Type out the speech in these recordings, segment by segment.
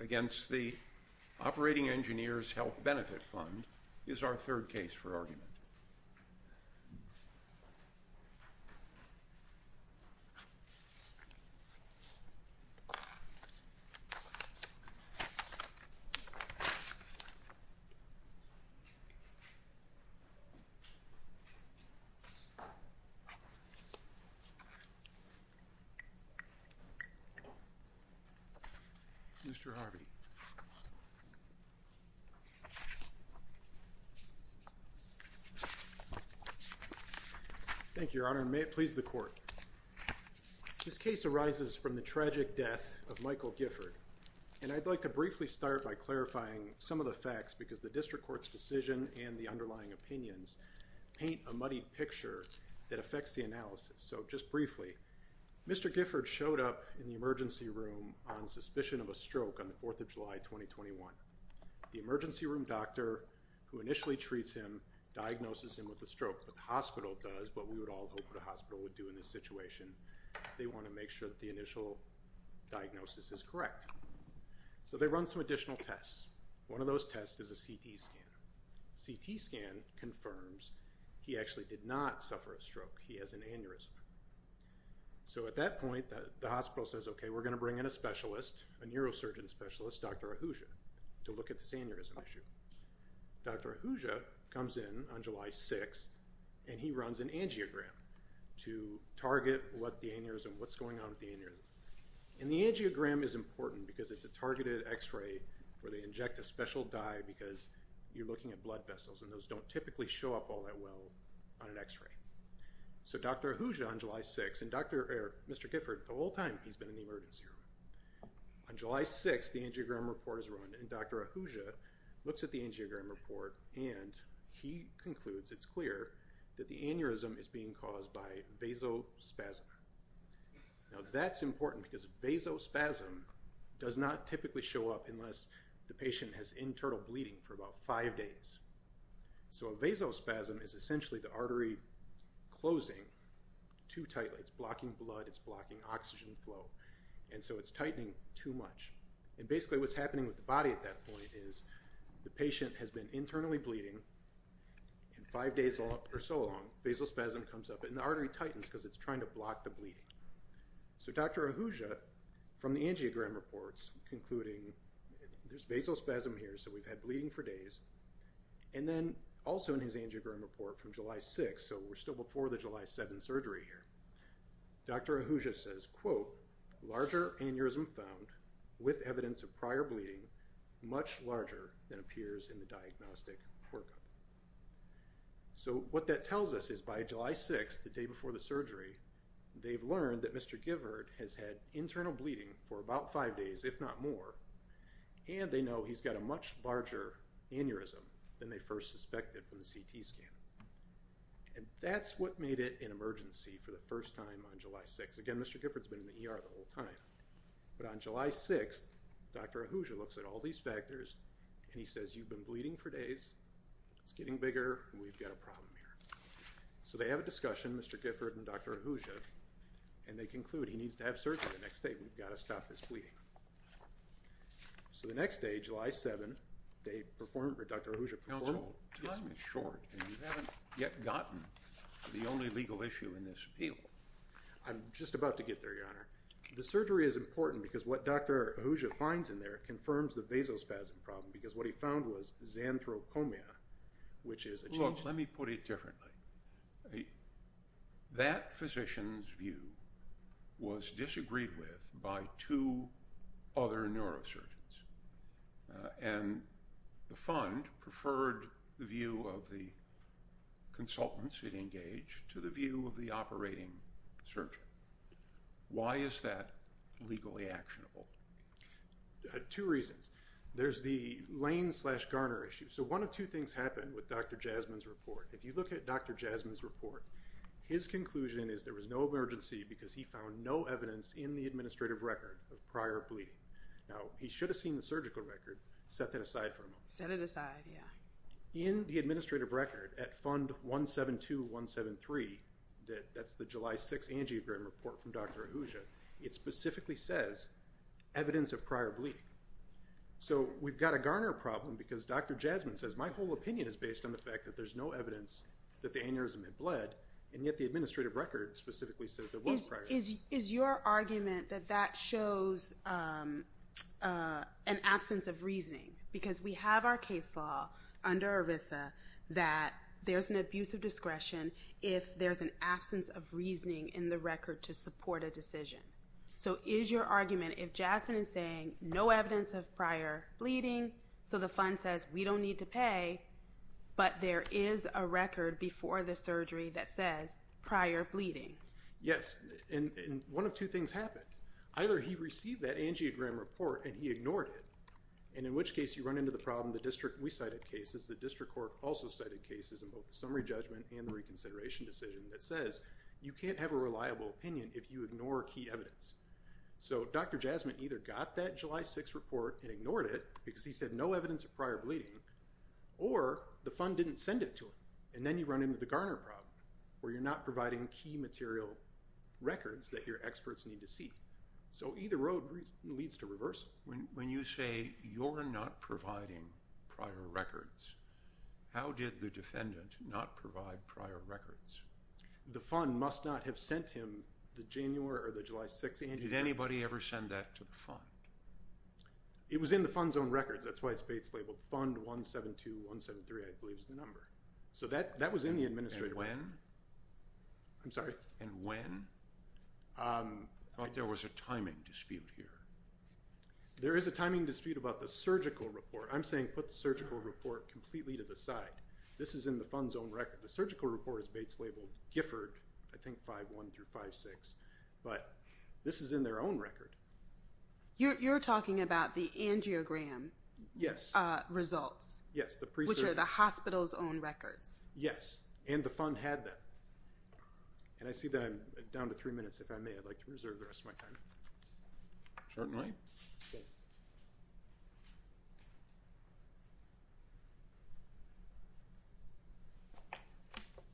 against the Operating Engineers Health Benefit Fund, Mr. Harvey. Thank you, Your Honor, and may it please the Court. This case arises from the tragic death of Michael Gifford, and I'd like to briefly start by clarifying some of the facts because the District Court's decision and the underlying opinions paint a muddy picture that affects the analysis. So, just briefly, Mr. Gifford showed up in the emergency room on suspicion of a stroke on the 4th of July, 2021. The emergency room doctor, who initially treats him, diagnoses him with a stroke, but the hospital does what we would all hope the hospital would do in this situation. They want to make sure that the initial diagnosis is correct. So they run some additional tests. One of those tests is a CT scan. CT scan confirms he actually did not suffer a stroke. He has an aneurysm. So at that point, the hospital says, okay, we're going to bring in a specialist, a neurosurgeon specialist, Dr. Ahuja, to look at this aneurysm issue. Dr. Ahuja comes in on July 6th, and he runs an angiogram to target what the aneurysm, what's going on with the aneurysm. And the angiogram is important because it's a targeted x-ray where they inject a special dye because you're looking at blood vessels, and those don't typically show up all that well on an x-ray. So Dr. Ahuja on July 6th, and Mr. Gifford, the whole time he's been in the emergency room. On July 6th, the angiogram report is run, and Dr. Ahuja looks at the angiogram report, and he concludes it's clear that the aneurysm is being caused by vasospasm. Now that's important because vasospasm does not typically show up unless the patient has internal bleeding for about five days. So a vasospasm is essentially the artery closing too tightly. It's blocking blood, it's blocking oxygen flow. And so it's tightening too much. And basically what's happening with the body at that point is the patient has been internally bleeding and five days or so long, vasospasm comes up, and the artery tightens because it's trying to block the bleeding. So Dr. Ahuja, from the angiogram reports, concluding there's vasospasm here, so we've had bleeding for days, and then also in his angiogram report from July 6th, so we're still before the July 7th surgery here, Dr. Ahuja says, quote, larger aneurysm found with evidence of prior bleeding, much larger than appears in the diagnostic workup. So what that tells us is by July 6th, the day before the surgery, they've learned that Mr. Gifford has had internal bleeding for about five days, if not more, and they know he's got a much larger aneurysm than they first suspected from the CT scan. And that's what made it an emergency for the first time on July 6th. Again, Mr. Gifford's been in the ER the whole time. But on July 6th, Dr. Ahuja looks at all these factors, and he says, you've been bleeding for days, it's getting bigger, we've got a problem here. So they have a discussion, Mr. Gifford and Dr. Ahuja, and they conclude he needs to have surgery the next day, we've got to stop this bleeding. So the next day, July 7th, they performed, or Dr. Ahuja performed... Counsel, time is short, and you haven't yet gotten the only legal issue in this appeal. I'm just about to get there, Your Honor. The surgery is important because what Dr. Ahuja finds in there confirms the vasospasm problem, because what he found was xanthrocomia, which is a change... Let me put it differently. That physician's view was disagreed with by two other neurosurgeons. And the fund preferred the view of the consultants it engaged to the view of the operating surgeon. Why is that legally actionable? Two reasons. There's the Lane-slash-Garner issue. One of two things happened with Dr. Jasmine's report. If you look at Dr. Jasmine's report, his conclusion is there was no emergency because he found no evidence in the administrative record of prior bleeding. Now, he should have seen the surgical record, set that aside for a moment. Set it aside, yeah. In the administrative record at Fund 172173, that's the July 6th angiogram report from Dr. Ahuja, it specifically says evidence of prior bleeding. So we've got a Garner problem because Dr. Jasmine says, my whole opinion is based on the fact that there's no evidence that the aneurysm had bled, and yet the administrative record specifically says there was prior bleeding. Is your argument that that shows an absence of reasoning? Because we have our case law under ERISA that there's an abuse of discretion if there's an absence of reasoning in the record to support a decision. So is your argument if Jasmine is saying no evidence of prior bleeding, so the fund says we don't need to pay, but there is a record before the surgery that says prior bleeding? Yes. And one of two things happened. Either he received that angiogram report and he ignored it, and in which case you run into the problem, the district we cited cases, the district court also cited cases in both the summary judgment and the reconsideration decision that says, you can't have a reliable opinion if you ignore key evidence. So Dr. Jasmine either got that July 6 report and ignored it because he said no evidence of prior bleeding, or the fund didn't send it to him. And then you run into the Garner problem where you're not providing key material records that your experts need to see. So either road leads to reversal. When you say you're not providing prior records, how did the defendant not provide prior records? The fund must not have sent him the January or the July 6 angiogram. Did anybody ever send that to the fund? It was in the fund's own records. That's why it's Bates labeled fund 172173, I believe is the number. So that was in the administrator. And when? I'm sorry? And when? I thought there was a timing dispute here. There is a timing dispute about the surgical report. I'm saying put the surgical report completely to the side. This is in the fund's own record. The surgical report is Bates labeled Gifford, I think, 5.1 through 5.6. But this is in their own record. You're talking about the angiogram results. Yes, the pre-surgery. Which are the hospital's own records. Yes, and the fund had them. And I see that I'm down to three minutes. If I may, I'd like to reserve the rest of my time. Certainly.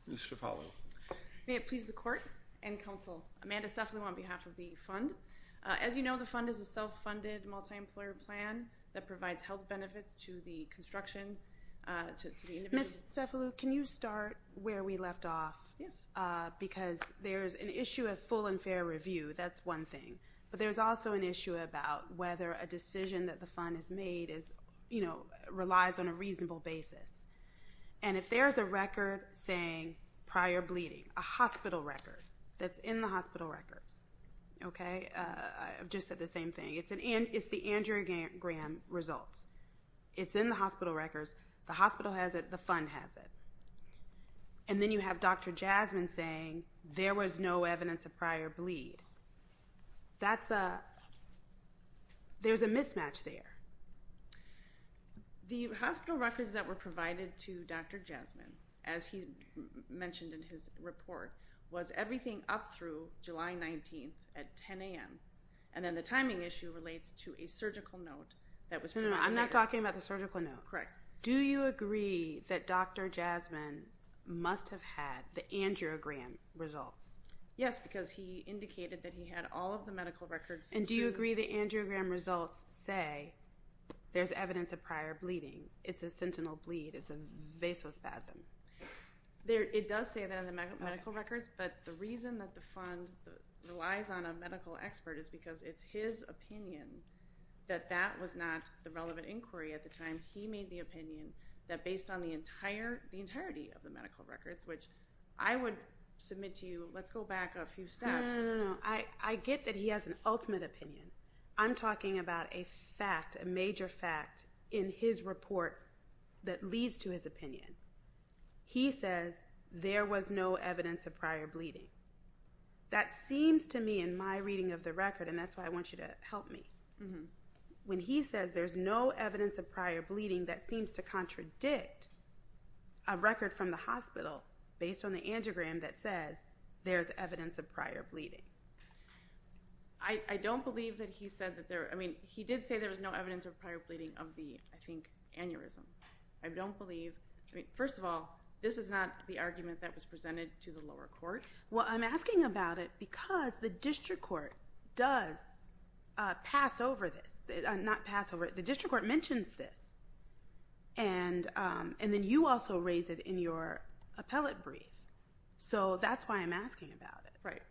Ms. Cefalu. May it please the court and counsel. Amanda Cefalu on behalf of the fund. As you know, the fund is a self-funded multi-employer plan that provides health benefits to the construction. Ms. Cefalu, can you start where we left off? Yes. Because there's an issue of full and fair review. That's one thing. But there's also an issue about whether a decision that the fund has made relies on a reasonable basis. And if there's a record saying prior bleeding. A hospital record. That's in the hospital records. Okay? I've just said the same thing. It's the angiogram results. It's in the hospital records. The hospital has it. The fund has it. And then you have Dr. Jasmine saying there was no evidence of prior bleed. That's a... There's a mismatch there. The hospital records that were provided to Dr. Jasmine, as he mentioned in his report, was everything up through July 19th at 10 a.m. And then the timing issue relates to a surgical note that was... No, no, no. I'm not talking about the surgical note. Correct. Do you agree that Dr. Jasmine must have had the angiogram results? Yes, because he indicated that he had all of the medical records. And do you agree the angiogram results say there's evidence of prior bleeding? It's a sentinel bleed. It's a vasospasm. It does say that in the medical records. But the reason that the fund relies on a medical expert is because it's his opinion that that was not the relevant inquiry at the time. He made the opinion that based on the entirety of the medical records, which I would submit to you, let's go back a few steps. No, no, no. I get that he has an ultimate opinion. I'm talking about a fact, a major fact in his report that leads to his opinion. He says there was no evidence of prior bleeding. That seems to me in my reading of the record, and that's why I want you to help me. When he says there's no evidence of prior bleeding, that seems to contradict a record from the hospital based on the angiogram that says there's evidence of prior bleeding. I don't believe that he said that there, I mean, he did say there was no evidence of prior bleeding of the, I think, aneurysm. I don't believe, I mean, first of all, this is not the argument that was presented to the lower court. Well, I'm asking about it because the district court does pass over this. Not pass over it. The district court mentions this. And then you also raise it in your appellate brief. So that's why I'm asking about it. Right.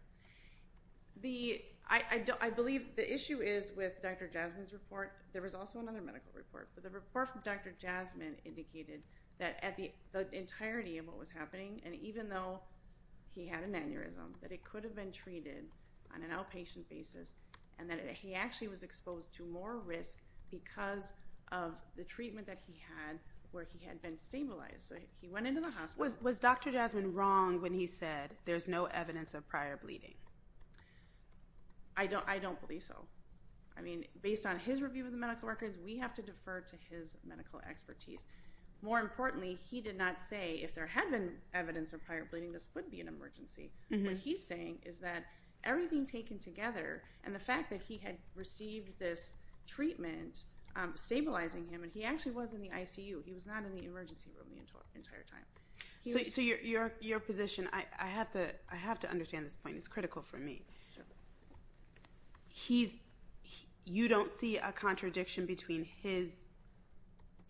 The, I believe the issue is with Dr. Jasmine's report, there was also another medical report, but the report from Dr. Jasmine indicated that at the entirety of what was happening, and even though he had an aneurysm, that it could have been treated on an outpatient basis, and that he actually was exposed to more risk because of the treatment that he had where he had been stabilized. So he went into the hospital. Was Dr. Jasmine wrong when he said there's no evidence of prior bleeding? I don't believe so. I mean, based on his review of the medical records, we have to defer to his medical expertise. More importantly, he did not say if there had been evidence of prior bleeding, this would be an emergency. What he's saying is that everything taken together, and the fact that he had received this treatment stabilizing him, and he actually was in the ICU. He was not in the emergency room the entire time. So your position, I have to understand this point. It's critical for me. You don't see a contradiction between his,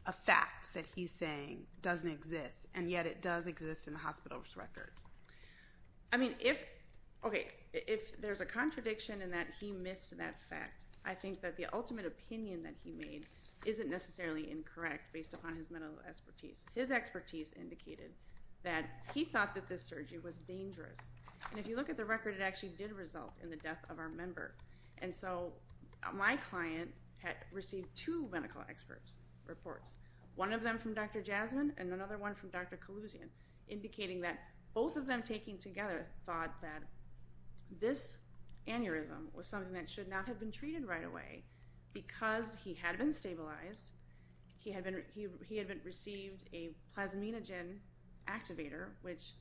a fact that he's saying doesn't exist, and yet it does exist in the hospital's records? I mean, if there's a contradiction in that he missed that fact, I think that the ultimate opinion that he made isn't necessarily incorrect based upon his medical expertise. His expertise indicated that he thought that this surgery was dangerous. And if you look at the record, it actually did result in the death of our member. And so my client had received two medical experts' reports, one of them from Dr. Jasmine and another one from Dr. Kalouzian, indicating that both of them taking together thought that this aneurysm was something that should not have been treated right away because he had been stabilized, he had received a plasminogen activator, which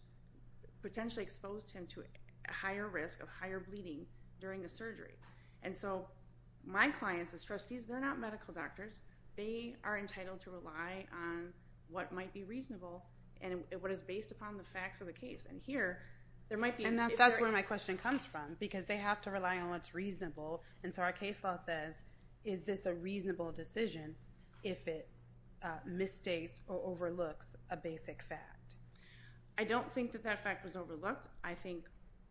potentially exposed him to a higher risk of higher bleeding during the surgery. And so my clients as trustees, they're not medical doctors. They are entitled to rely on what might be reasonable and what is based upon the facts of the case. And here, there might be... And that's where my question comes from, because they have to rely on what's reasonable. And so our case law says, is this a reasonable decision? If it misstates or overlooks a basic fact? I don't think that that fact was overlooked. I think,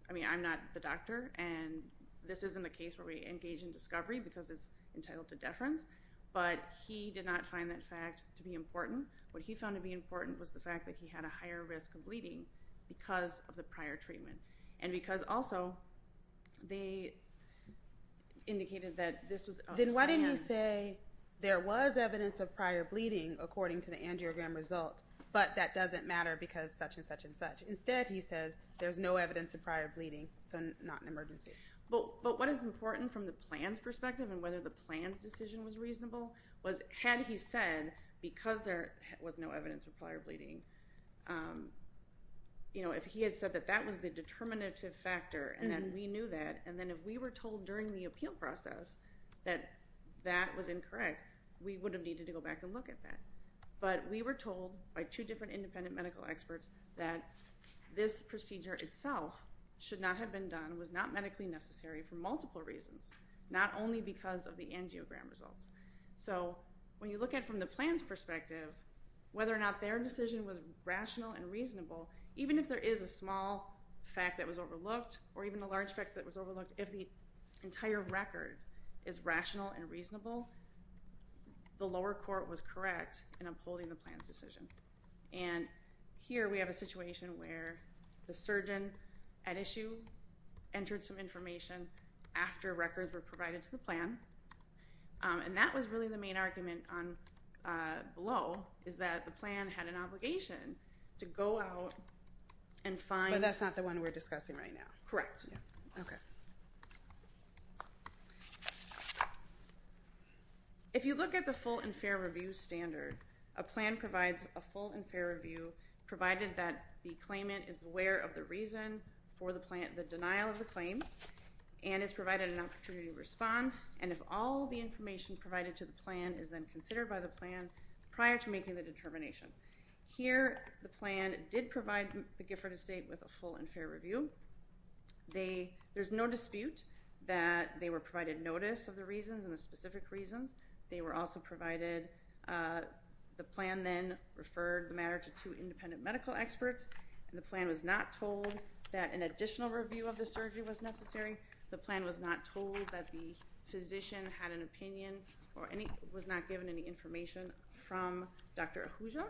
I mean, I'm not the doctor, and this isn't a case where we engage in discovery because it's entitled to deference. But he did not find that fact to be important. What he found to be important was the fact that he had a higher risk of bleeding because of the prior treatment. And because also, they indicated that this was... Then why didn't he say there was evidence of prior bleeding according to the angiogram result, but that doesn't matter because such and such and such. Instead, he says there's no evidence of prior bleeding, so not an emergency. But what is important from the plan's perspective and whether the plan's decision was reasonable was had he said, because there was no evidence of prior bleeding, if he had said that that was the determinative factor, and then we knew that, and then if we were told during the appeal process that that was incorrect, we would have needed to go back and look at that. But we were told by two different independent medical experts that this procedure itself should not have been done, was not medically necessary for multiple reasons, not only because of the angiogram results. So when you look at from the plan's perspective, whether or not their decision was rational and reasonable, even if there is a small fact that was overlooked or even a large fact that was overlooked, if the entire record is rational and reasonable, the lower court was correct in upholding the plan's decision. And here we have a situation where the surgeon at issue entered some information after records were provided to the plan. And that was really the main argument below is that the plan had an obligation to go out and find... But that's not the one we're discussing right now. Correct. Okay. So if you look at the full and fair review standard, a plan provides a full and fair review provided that the claimant is aware of the reason for the denial of the claim and is provided an opportunity to respond. And if all the information provided to the plan is then considered by the plan prior to making the determination. Here, the plan did provide the Gifford estate with a full and fair review. There's no dispute that they were provided notice of the reasons and the specific reasons. They were also provided... The plan then referred the matter to two independent medical experts. And the plan was not told that an additional review of the surgery was necessary. The plan was not told that the physician had an opinion or was not given any information from Dr. Ahuja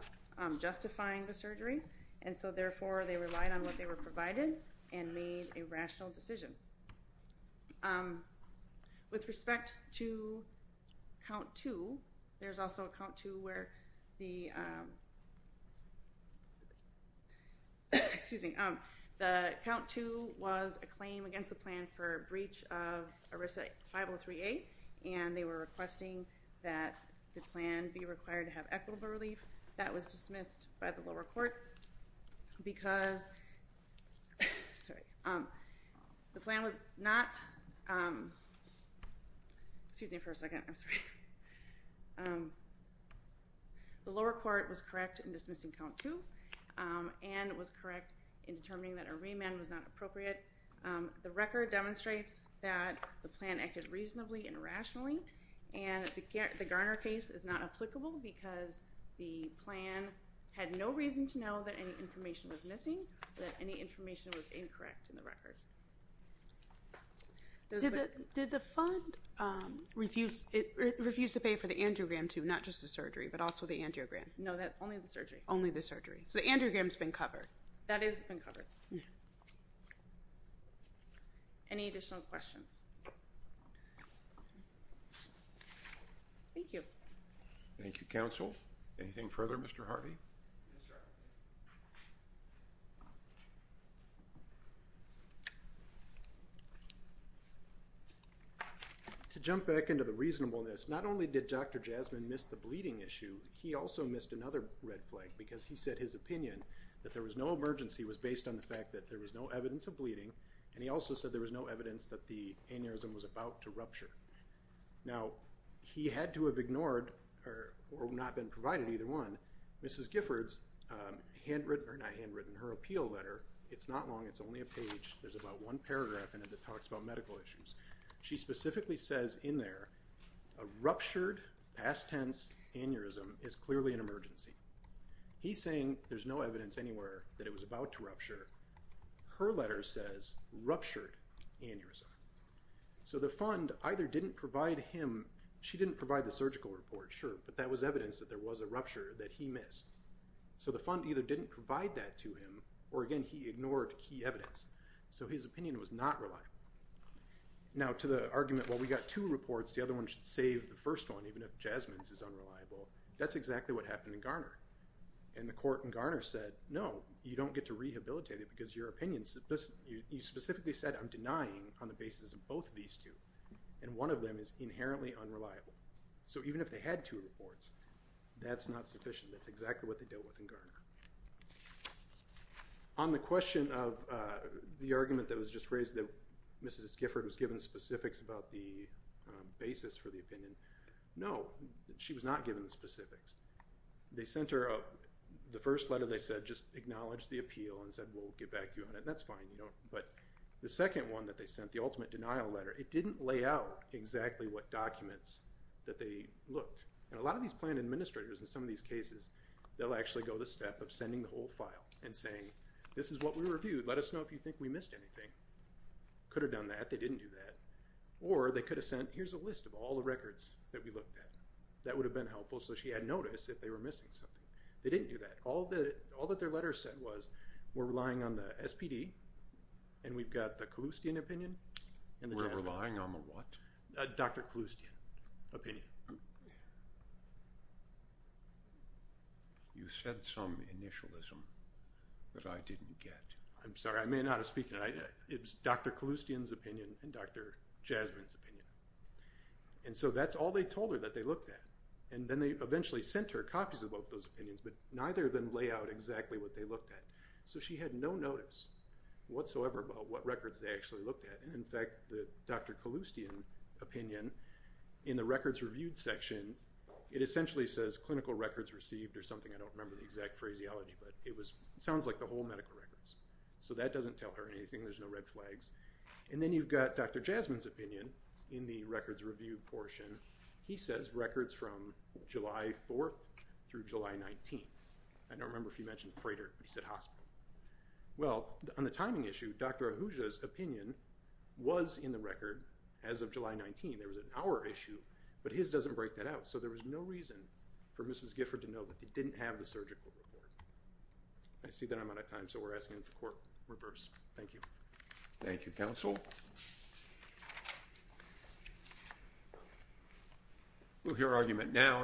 justifying the surgery. And so therefore, they relied on what they were provided. And made a rational decision. With respect to count two, there's also a count two where the... Excuse me. The count two was a claim against the plan for breach of ERISA 503A. And they were requesting that the plan be required to have equitable relief. That was dismissed by the lower court because... Sorry. The plan was not... Excuse me for a second. I'm sorry. The lower court was correct in dismissing count two. And was correct in determining that a remand was not appropriate. The record demonstrates that the plan acted reasonably and rationally. And the Garner case is not applicable because the plan had no reason to know that any information was missing. That any information was incorrect in the record. Did the fund refuse to pay for the angiogram too? Not just the surgery, but also the angiogram. No, only the surgery. Only the surgery. So the angiogram's been covered. That is been covered. Any additional questions? Thank you. Thank you, counsel. Anything further, Mr. Harvey? To jump back into the reasonableness, not only did Dr. Jasmine miss the bleeding issue, he also missed another red flag because he said his opinion that there was no emergency was based on the fact that there was no evidence of bleeding. And he also said there was no evidence that the aneurysm was about to rupture. Now, he had to have ignored or not been provided either one. Mrs. Giffords handwritten or not handwritten her appeal letter. It's not long. It's only a page. There's about one paragraph in it that talks about medical issues. She specifically says in there, a ruptured past tense aneurysm is clearly an emergency. He's saying there's no evidence anywhere that it was about to rupture. Her letter says ruptured aneurysm. So the fund either didn't provide him, she didn't provide the surgical report, sure. But that was evidence that there was a rupture that he missed. So the fund either didn't provide that to him, or again, he ignored key evidence. So his opinion was not reliable. Now to the argument, well, we got two reports. The other one should save the first one, even if Jasmine's is unreliable. That's exactly what happened in Garner. And the court in Garner said, no, you don't get to rehabilitate it because your opinions, you specifically said, I'm denying on the basis of both of these two. And one of them is inherently unreliable. So even if they had two reports, that's not sufficient. That's exactly what they dealt with in Garner. On the question of the argument that was just raised, that Mrs. Gifford was given specifics about the basis for the opinion. No, she was not given the specifics. They sent her up, the first letter they said, just acknowledge the appeal and said, we'll get back to you on it. And that's fine. But the second one that they sent, the ultimate denial letter, it didn't lay out exactly what documents that they looked. And a lot of these plan administrators in some of these cases, they'll actually go the step of sending the whole file and saying, this is what we reviewed. Let us know if you think we missed anything. Could have done that. They didn't do that. Or they could have sent, here's a list of all the records that we looked at. That would have been helpful. So she had notice if they were missing something. They didn't do that. All that their letter said was, we're relying on the SPD and we've got the Kalustyan opinion. And we're relying on the what? Dr. Kalustyan opinion. You said some initialism that I didn't get. I'm sorry. I may not have speak to that. It's Dr. Kalustyan's opinion and Dr. Jasmine's opinion. And so that's all they told her that they looked at. And then they eventually sent her copies of both those opinions, but neither of them lay out exactly what they looked at. So she had no notice whatsoever about what records they actually looked at. And in fact, the Dr. Kalustyan opinion in the records reviewed section, it essentially says clinical records received or something. I don't remember the exact phraseology, but it sounds like the whole medical records. So that doesn't tell her anything. There's no red flags. And then you've got Dr. Jasmine's opinion in the records review portion. He says records from July 4th through July 19th. I don't remember if you mentioned freighter, but he said hospital. Well, on the timing issue, Dr. Ahuja's opinion was in the record as of July 19. There was an hour issue, but his doesn't break that out. So there was no reason for Mrs. Gifford to know that they didn't have the surgical report. I see that I'm out of time. So we're asking the court reverse. Thank you. Thank you, counsel. We'll hear argument down.